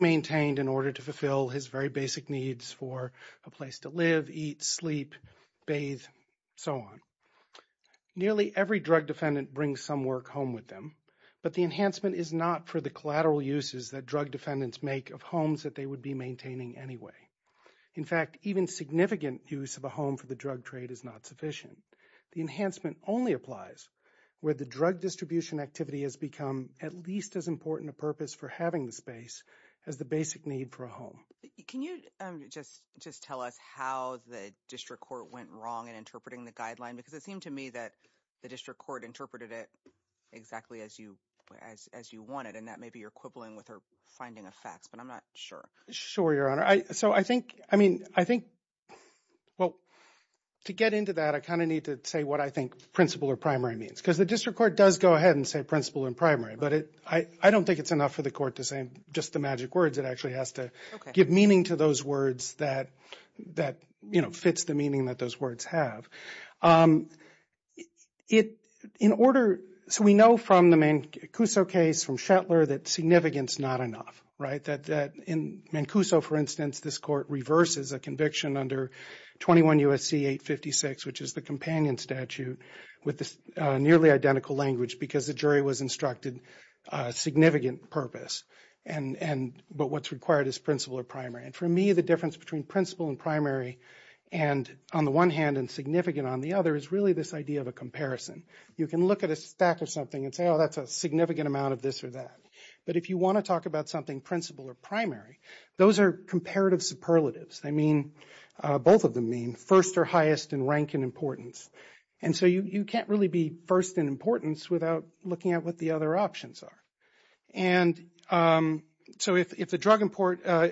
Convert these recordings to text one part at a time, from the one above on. maintained in order to fulfill his very basic needs for a place to live, eat, sleep, bathe, so on. Nearly every drug defendant brings some work home with them, but the enhancement is not for the collateral uses that drug defendants make of homes that they would be maintaining anyway. In fact, even significant use of a home for the drug trade is not sufficient. The enhancement only applies where the drug distribution activity has become at least as important a purpose for having the space as the basic need for a home. Can you just tell us how the district court went wrong in interpreting the guideline? Because it seemed to me that the district court interpreted it exactly as you wanted, and that maybe you're quibbling with or finding a fax, but I'm not sure. Sure, Your Honor. So I think, I mean, I think, well, to get into that, I kind of need to say what I think principal or primary means, because the district court does go ahead and say principal and primary, but I don't think it's enough for the court to say just the magic words. It actually has to give meaning to those words that, you know, fits the meaning that those words have. It, in order, so we know from the Mancuso case, from Shetlar, that significance is not enough, right? That in Mancuso, for instance, this court reverses a conviction under 21 U.S.C. 856, which is the companion statute, with this nearly identical language because the jury was instructed significant purpose, and, but what's required is principal or primary, and for me, the difference between principal and primary, and on the one hand, and significant on the other, is really this idea of a comparison. You can look at a stack of something and say, oh, that's a significant amount of this or that, but if you want to talk about something principal or primary, those are comparative superlatives. They mean, both of them mean first or highest in rank and importance, and so you can't really be first in importance without looking at what the other options are, and so if the drug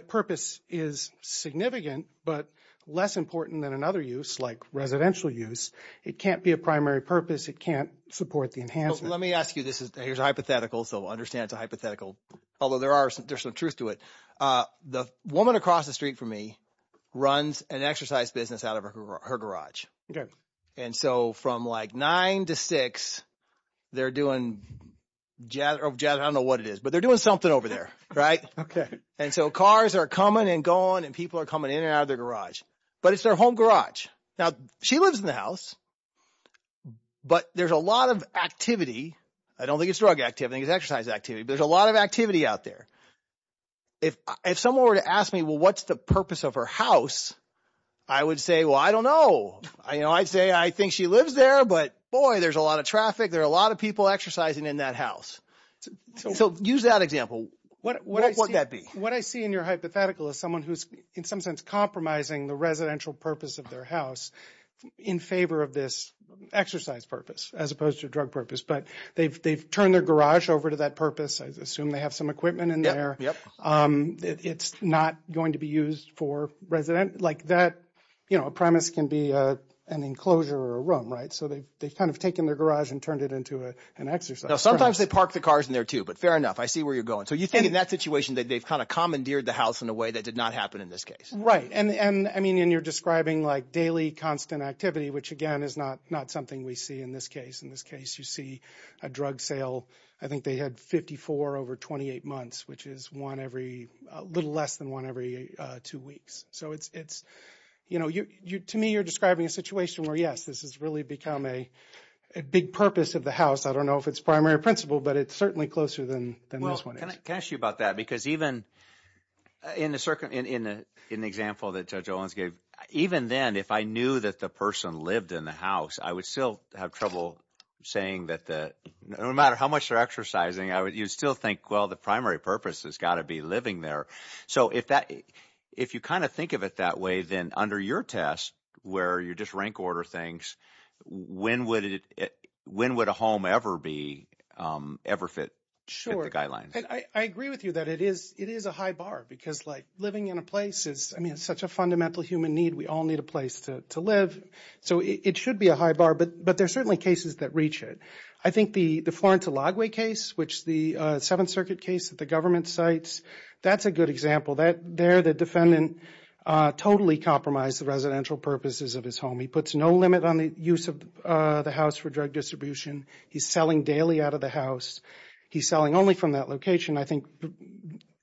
purpose is significant, but less important than another use, like residential use, it can't be a primary purpose, it can't support the enhancement. Let me ask you, this is, here's a hypothetical, so understand it's a hypothetical, although there are, there's some truth to it. The woman across the street from me runs an exercise business out of her garage, and so from like nine to six, they're doing, I don't know what it is, but they're doing something over there, right? Okay. And so cars are coming and going, and people are coming in and out of their garage, but it's their home garage. Now, she lives in the house, but there's a lot of activity, I don't think it's drug activity, I think it's exercise activity, but there's a lot of activity out there. If someone were to ask me, well, what's the purpose of her house, I would say, well, I don't know. I'd say, I think she lives there, but boy, there's a lot of traffic, there are a lot of people exercising in that house. So use that example. What would that be? What I see in your hypothetical is someone who's, in some sense, compromising the residential purpose of their house in favor of this exercise purpose, as opposed to drug purpose, but they've turned their garage over to that purpose. I assume they have some equipment in there. It's not going to be used for resident, like that, you know, a premise can be an enclosure or a room, right? So they've kind of taken their garage and turned it into an exercise. Now, sometimes they park the cars in there too, but fair enough, I see where you're going. So you think in that situation that they've kind of commandeered the house in a way that did not happen in this case. Right. And I mean, you're describing like daily constant activity, which again, is not something we see in this case. In this case, you see a drug sale, I think they had 54 over 28 months, which is one every, a little less than one every two weeks. So it's, you know, to me, you're describing a situation where, yes, this has really become a big purpose of the house. I don't know if it's primary principle, but it's certainly closer than this one is. Well, can I ask you about that? Because even in an example that Judge Owens gave, even then, if I knew that the person lived in the house, I would still have trouble saying that the, no matter how much they're exercising, you'd still think, well, the primary purpose has got to be living there. So if that, if you kind of think of it that way, then under your test, where you're just rank order things, when would it, when would a home ever be, ever fit the guidelines? Sure. And I agree with you that it is, it is a high bar because like living in a place is, I mean, it's such a fundamental human need. We all need a place to live. So it should be a high bar, but, but there are certainly cases that reach it. I think the, the Florence Elagway case, which the Seventh Circuit case that the government cites, that's a good example that there, the defendant totally compromised the residential purposes of his home. He puts no limit on the use of the house for drug distribution. He's selling daily out of the house. He's selling only from that location. I think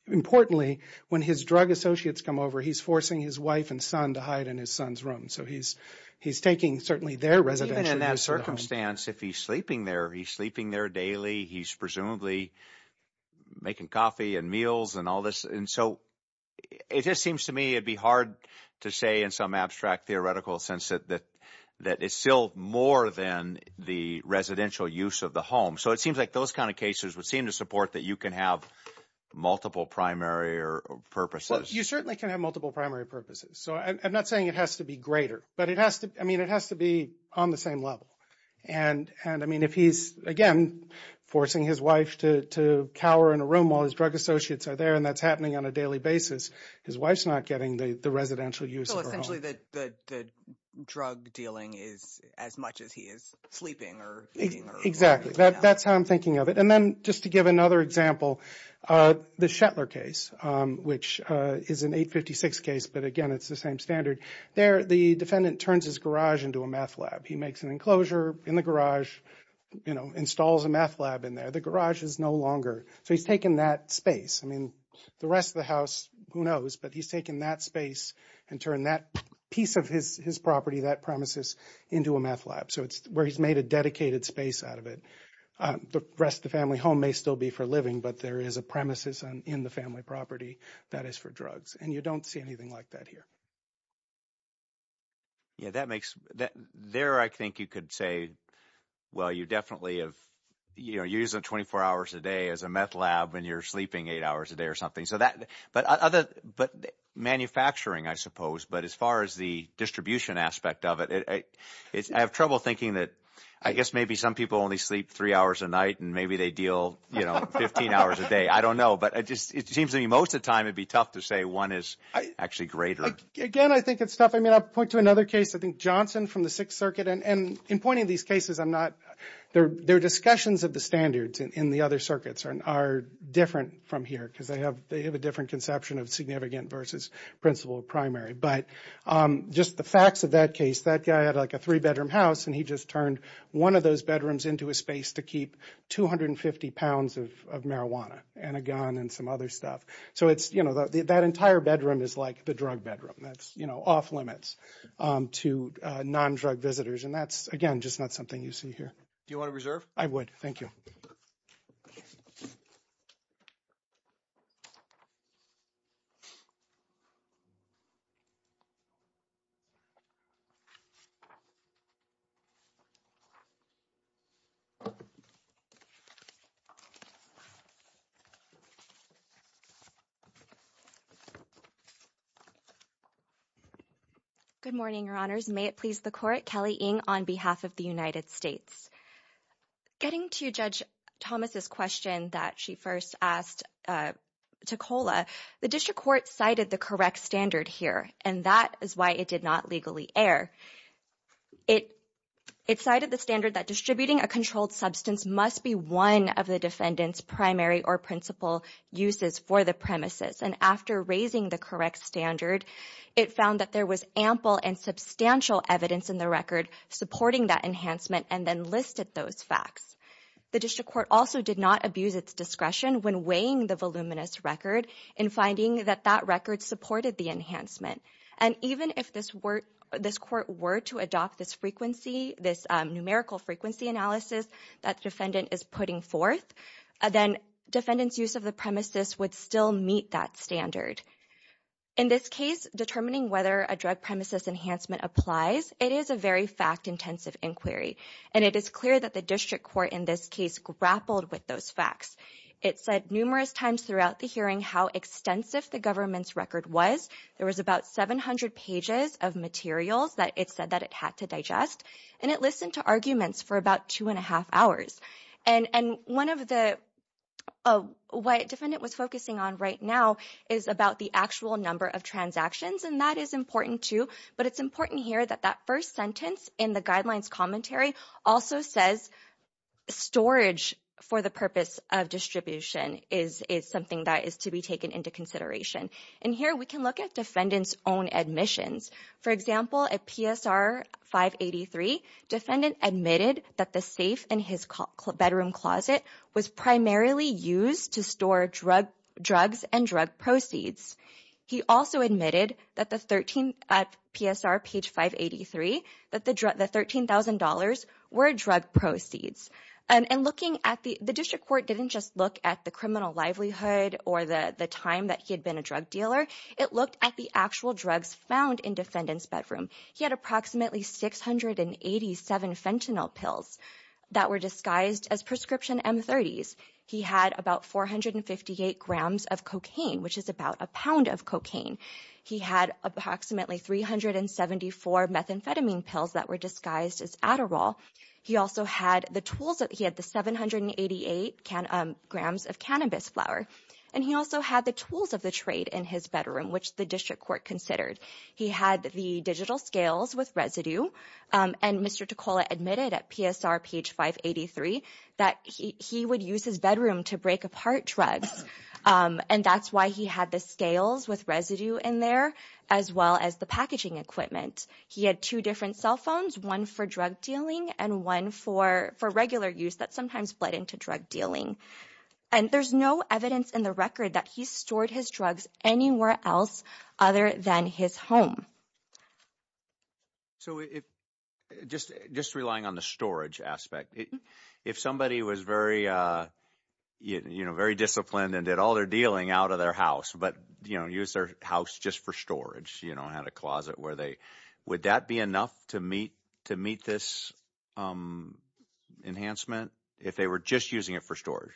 importantly, when his drug associates come over, he's forcing his wife and son to hide in his son's room. So he's, he's taking certainly their residential use of the home. Even in that circumstance, if he's sleeping there, he's sleeping there daily. He's presumably making coffee and meals and all this. And so it just seems to me, it'd be hard to say in some abstract theoretical sense that, that, that it's still more than the residential use of the home. So it seems like those kinds of cases would seem to support that you can have multiple primary or purposes. You certainly can have multiple primary purposes. So I'm not saying it has to be greater, but it has to, I mean, it has to be on the same level. And, and I mean, if he's again, forcing his wife to, to cower in a room while his drug associates are there, and that's happening on a daily basis, his wife's not getting the, the residential use of her home. So essentially, the, the, the drug dealing is as much as he is sleeping or eating or whatever. Exactly. That, that's how I'm thinking of it. And then just to give another example, the Shetler case, which is an 856 case, but again, it's the same standard. There the defendant turns his garage into a meth lab. He makes an enclosure in the garage, you know, installs a meth lab in there. The garage is no longer. So he's taken that space. I mean, the rest of the house, who knows, but he's taken that space and turned that piece of his, his property, that premises into a meth lab. So it's where he's made a dedicated space out of it. The rest of the family home may still be for living, but there is a premises in the family property that is for drugs. And you don't see anything like that here. Yeah, that makes that there, I think you could say, well, you definitely have, you know, you're using 24 hours a day as a meth lab when you're sleeping eight hours a day or something. So that, but other, but manufacturing, I suppose, but as far as the distribution aspect of it, it's, I have trouble thinking that I guess maybe some people only sleep three hours a night and maybe they deal, you know, 15 hours a day. I don't know, but it just, it seems to me most of the time, it'd be tough to say one is actually greater. Again, I think it's tough. I mean, I'll point to another case, I think Johnson from the Sixth Circuit and in pointing these cases, I'm not, their discussions of the standards in the other circuits are different from here because they have, they have a different conception of significant versus principal primary. But just the facts of that case, that guy had like a three bedroom house and he just turned one of those bedrooms into a space to keep 250 pounds of marijuana and a gun and some other stuff. So it's, you know, that entire bedroom is like the drug bedroom. That's, you know, off limits to non-drug visitors and that's, again, just not something you see here. Do you want to reserve? I would. Thank you. Good morning, Your Honors. May it please the court, Kelly Ng on behalf of the United States. Getting to Judge Thomas's question that she first asked to COLA, the district court cited the correct standard here and that is why it did not legally err. It, it cited the standard that distributing a controlled substance must be one of the defendant's primary or principal uses for the premises. And after raising the correct standard, it found that there was ample and substantial evidence in the record supporting that enhancement and then listed those facts. The district court also did not abuse its discretion when weighing the voluminous record in finding that that record supported the enhancement. And even if this were, this court were to adopt this frequency, this numerical frequency analysis that the defendant is putting forth, then defendant's use of the premises would still meet that standard. In this case, determining whether a drug premises enhancement applies, it is a very fact-intensive inquiry and it is clear that the district court in this case grappled with those facts. It said numerous times throughout the hearing how extensive the government's record was. There was about 700 pages of materials that it said that it had to digest and it listened to arguments for about two and a half hours. And, and one of the, what defendant was focusing on right now is about the actual number of transactions and that is important too, but it's important here that that first sentence in the guidelines commentary also says storage for the purpose of distribution is, is something that is to be taken into consideration. And here we can look at defendant's own admissions. For example, at PSR 583, defendant admitted that the safe in his bedroom closet was primarily used to store drug, drugs and drug proceeds. He also admitted that the 13, at PSR page 583, that the drug, the $13,000 were drug proceeds. And, and looking at the, the district court didn't just look at the criminal livelihood or the, the time that he had been a drug dealer. It looked at the actual drugs found in defendant's bedroom. He had approximately 687 fentanyl pills that were disguised as prescription M30s. He had about 458 grams of cocaine, which is about a pound of cocaine. He had approximately 374 methamphetamine pills that were disguised as Adderall. He also had the tools that he had, the 788 can, grams of cannabis flower. And he also had the tools of the trade in his bedroom, which the district court considered. He had the digital scales with residue. And Mr. Ticola admitted at PSR page 583 that he, he would use his bedroom to break apart drugs. And that's why he had the scales with residue in there, as well as the and one for, for regular use that sometimes fled into drug dealing. And there's no evidence in the record that he stored his drugs anywhere else other than his home. So if just, just relying on the storage aspect, if somebody was very, you know, very disciplined and did all their dealing out of their house, but, you know, use their house just for storage, you know, had a closet where they, would that be enough to meet, to meet this enhancement if they were just using it for storage?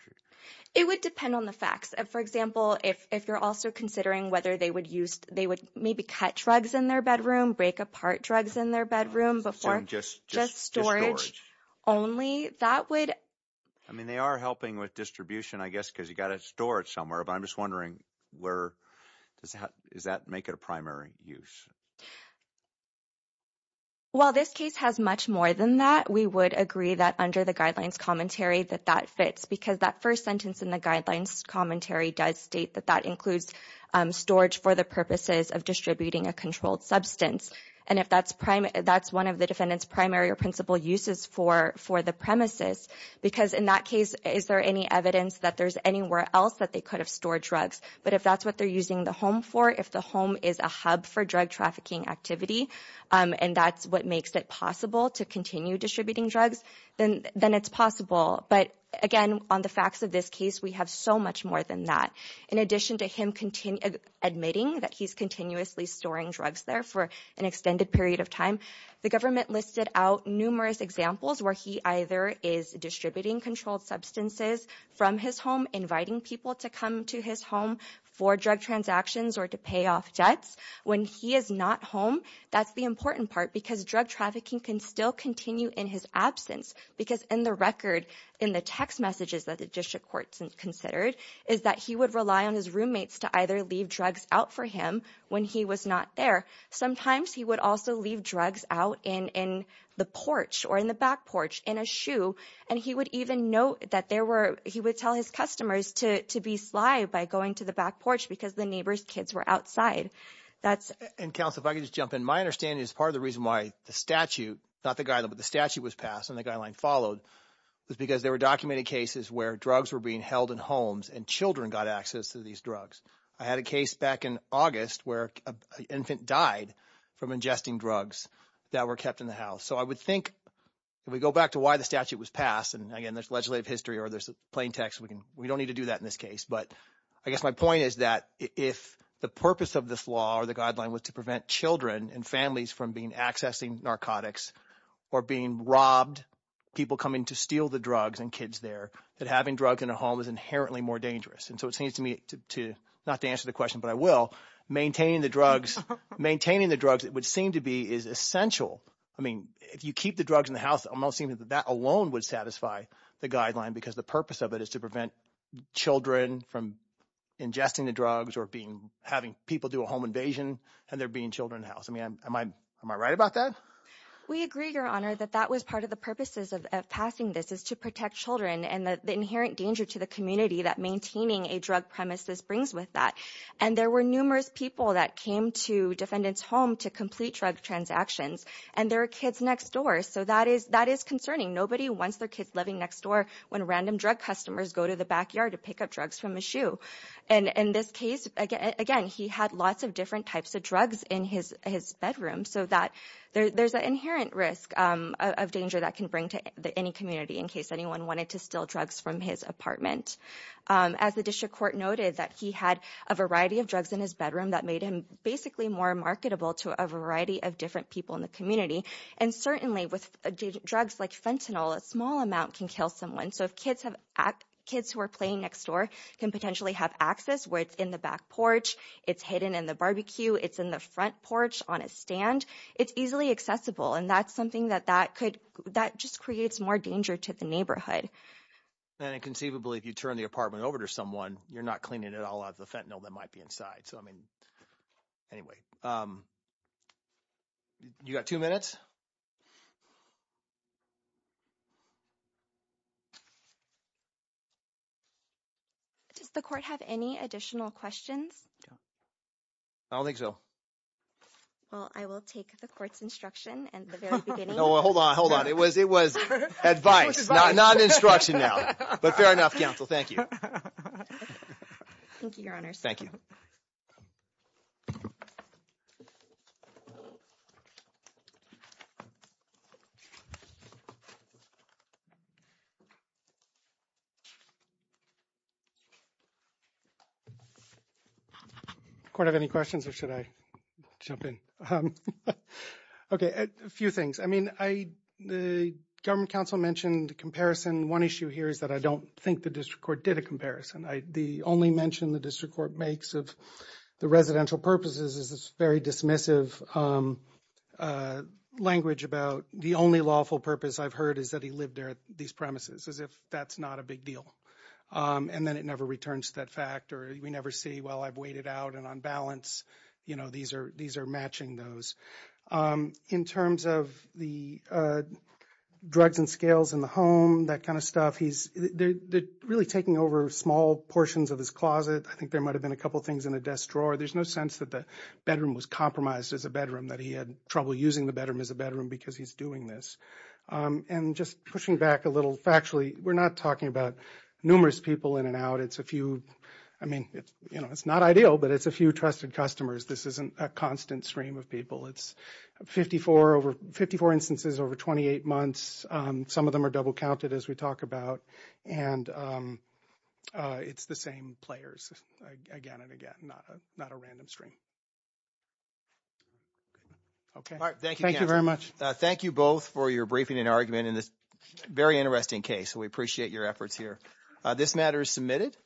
It would depend on the facts. And for example, if, if you're also considering whether they would use, they would maybe cut drugs in their bedroom, break apart drugs in their bedroom before just, just storage only that would. I mean, they are helping with distribution, I guess, cause you got to store it somewhere, but I'm just wondering where does that, does that make it a primary use? Well, this case has much more than that. We would agree that under the guidelines commentary that that fits because that first sentence in the guidelines commentary does state that that includes storage for the purposes of distributing a controlled substance. And if that's prime, that's one of the defendant's primary or principal uses for, for the premises, because in that case, is there any evidence that there's anywhere else that they could have stored drugs? But if that's what they're using the home for, if the home is a hub for drug trafficking activity and that's what makes it possible to continue distributing drugs, then, then it's possible. But again, on the facts of this case, we have so much more than that. In addition to him admitting that he's continuously storing drugs there for an extended period of time, the government listed out numerous examples where he either is distributing controlled substances from his home, inviting people to come to his home for drug transactions or to pay off debts when he is not home. That's the important part because drug trafficking can still continue in his absence because in the record, in the text messages that the district court considered is that he would rely on his roommates to either leave drugs out for him when he was not there. Sometimes he would also leave drugs out in, in the porch or in the back porch, in a shoe. And he would even note that there were, he would tell his customers to, to be sly by going to the back porch because the neighbor's kids were outside. That's- And counsel, if I could just jump in, my understanding is part of the reason why the statute, not the guideline, but the statute was passed and the guideline followed was because there were documented cases where drugs were being held in homes and children got access to these drugs. I had a case back in August where an infant died from ingesting drugs that were kept in the house. So I would think, if we go back to why the statute was passed, and again, there's legislative history or there's plain text, we can, we don't need to do that in this case. But I guess my point is that if the purpose of this law or the guideline was to prevent children and families from being accessing narcotics or being robbed, people coming to steal the drugs and kids there, that having drugs in a home is inherently more dangerous. And so it seems to me to, not to answer the question, but I will, maintaining the drugs, maintaining the drugs, it would seem to be is essential. I mean, if you keep the drugs in the house, it almost seems that that alone would satisfy the guideline because the purpose of it is to prevent children from ingesting the drugs or being, having people do a home invasion and there being children in the house. I mean, am I right about that? We agree, your honor, that that was part of the purposes of passing this is to protect children and the inherent danger to the community that maintaining a drug premise brings with that. And there were numerous people that came to defendant's home to complete drug transactions and there were kids next door. So that is, that is concerning. Nobody wants their kids living next door when random drug customers go to the backyard to pick up drugs from a shoe. And in this case, again, he had lots of different types of drugs in his bedroom so that there's an inherent risk of danger that can bring to any community in case anyone wanted to steal drugs from his apartment. As the district court noted that he had a variety of drugs in his bedroom that made him basically more marketable to a variety of different people in the community. And certainly with drugs like fentanyl, a small amount can kill someone. So if kids have, kids who are playing next door can potentially have access where it's in the back porch, it's hidden in the barbecue, it's in the front porch on a stand, it's easily accessible. And that's something that that could, that just creates more danger to the neighborhood. And inconceivably, if you turn the apartment over to someone, you're not cleaning it all out of the fentanyl that might be inside. So, I mean, anyway, you got two minutes? Does the court have any additional questions? I don't think so. Well, I will take the court's instruction at the very beginning. Well, hold on, hold on. It was advice, not instruction now. But fair enough, counsel. Thank you. Thank you, your honors. Does the court have any questions or should I jump in? Okay, a few things. I mean, the government counsel mentioned comparison. One issue here is that I don't think the district court did a comparison. The only mention the district court makes of the residential purposes is this very dismissive language about the only lawful purpose I've heard is that he lived there these premises, as if that's not a big deal. And then it never returns to that fact or we never see, well, I've waited out and on balance, you know, these are matching those. In terms of the drugs and scales in the home, that kind of stuff, he's really taking over small portions of his closet. I think there might have been a couple things in a desk drawer. There's no sense that the bedroom was compromised as a bedroom, that he had trouble using the bedroom as a bedroom because he's doing this. And just pushing back a little factually, we're not talking about numerous people in and out. It's a few, I mean, it's not ideal, but it's a few trusted customers. This isn't a constant stream of people. It's 54 instances over 28 months. Some of them are double counted as we talk about. And it's the same players again and again, not a random stream. Okay. All right. Thank you. Thank you very much. Thank you both for your briefing and argument in this very interesting case. We appreciate your efforts here. This matter is submitted.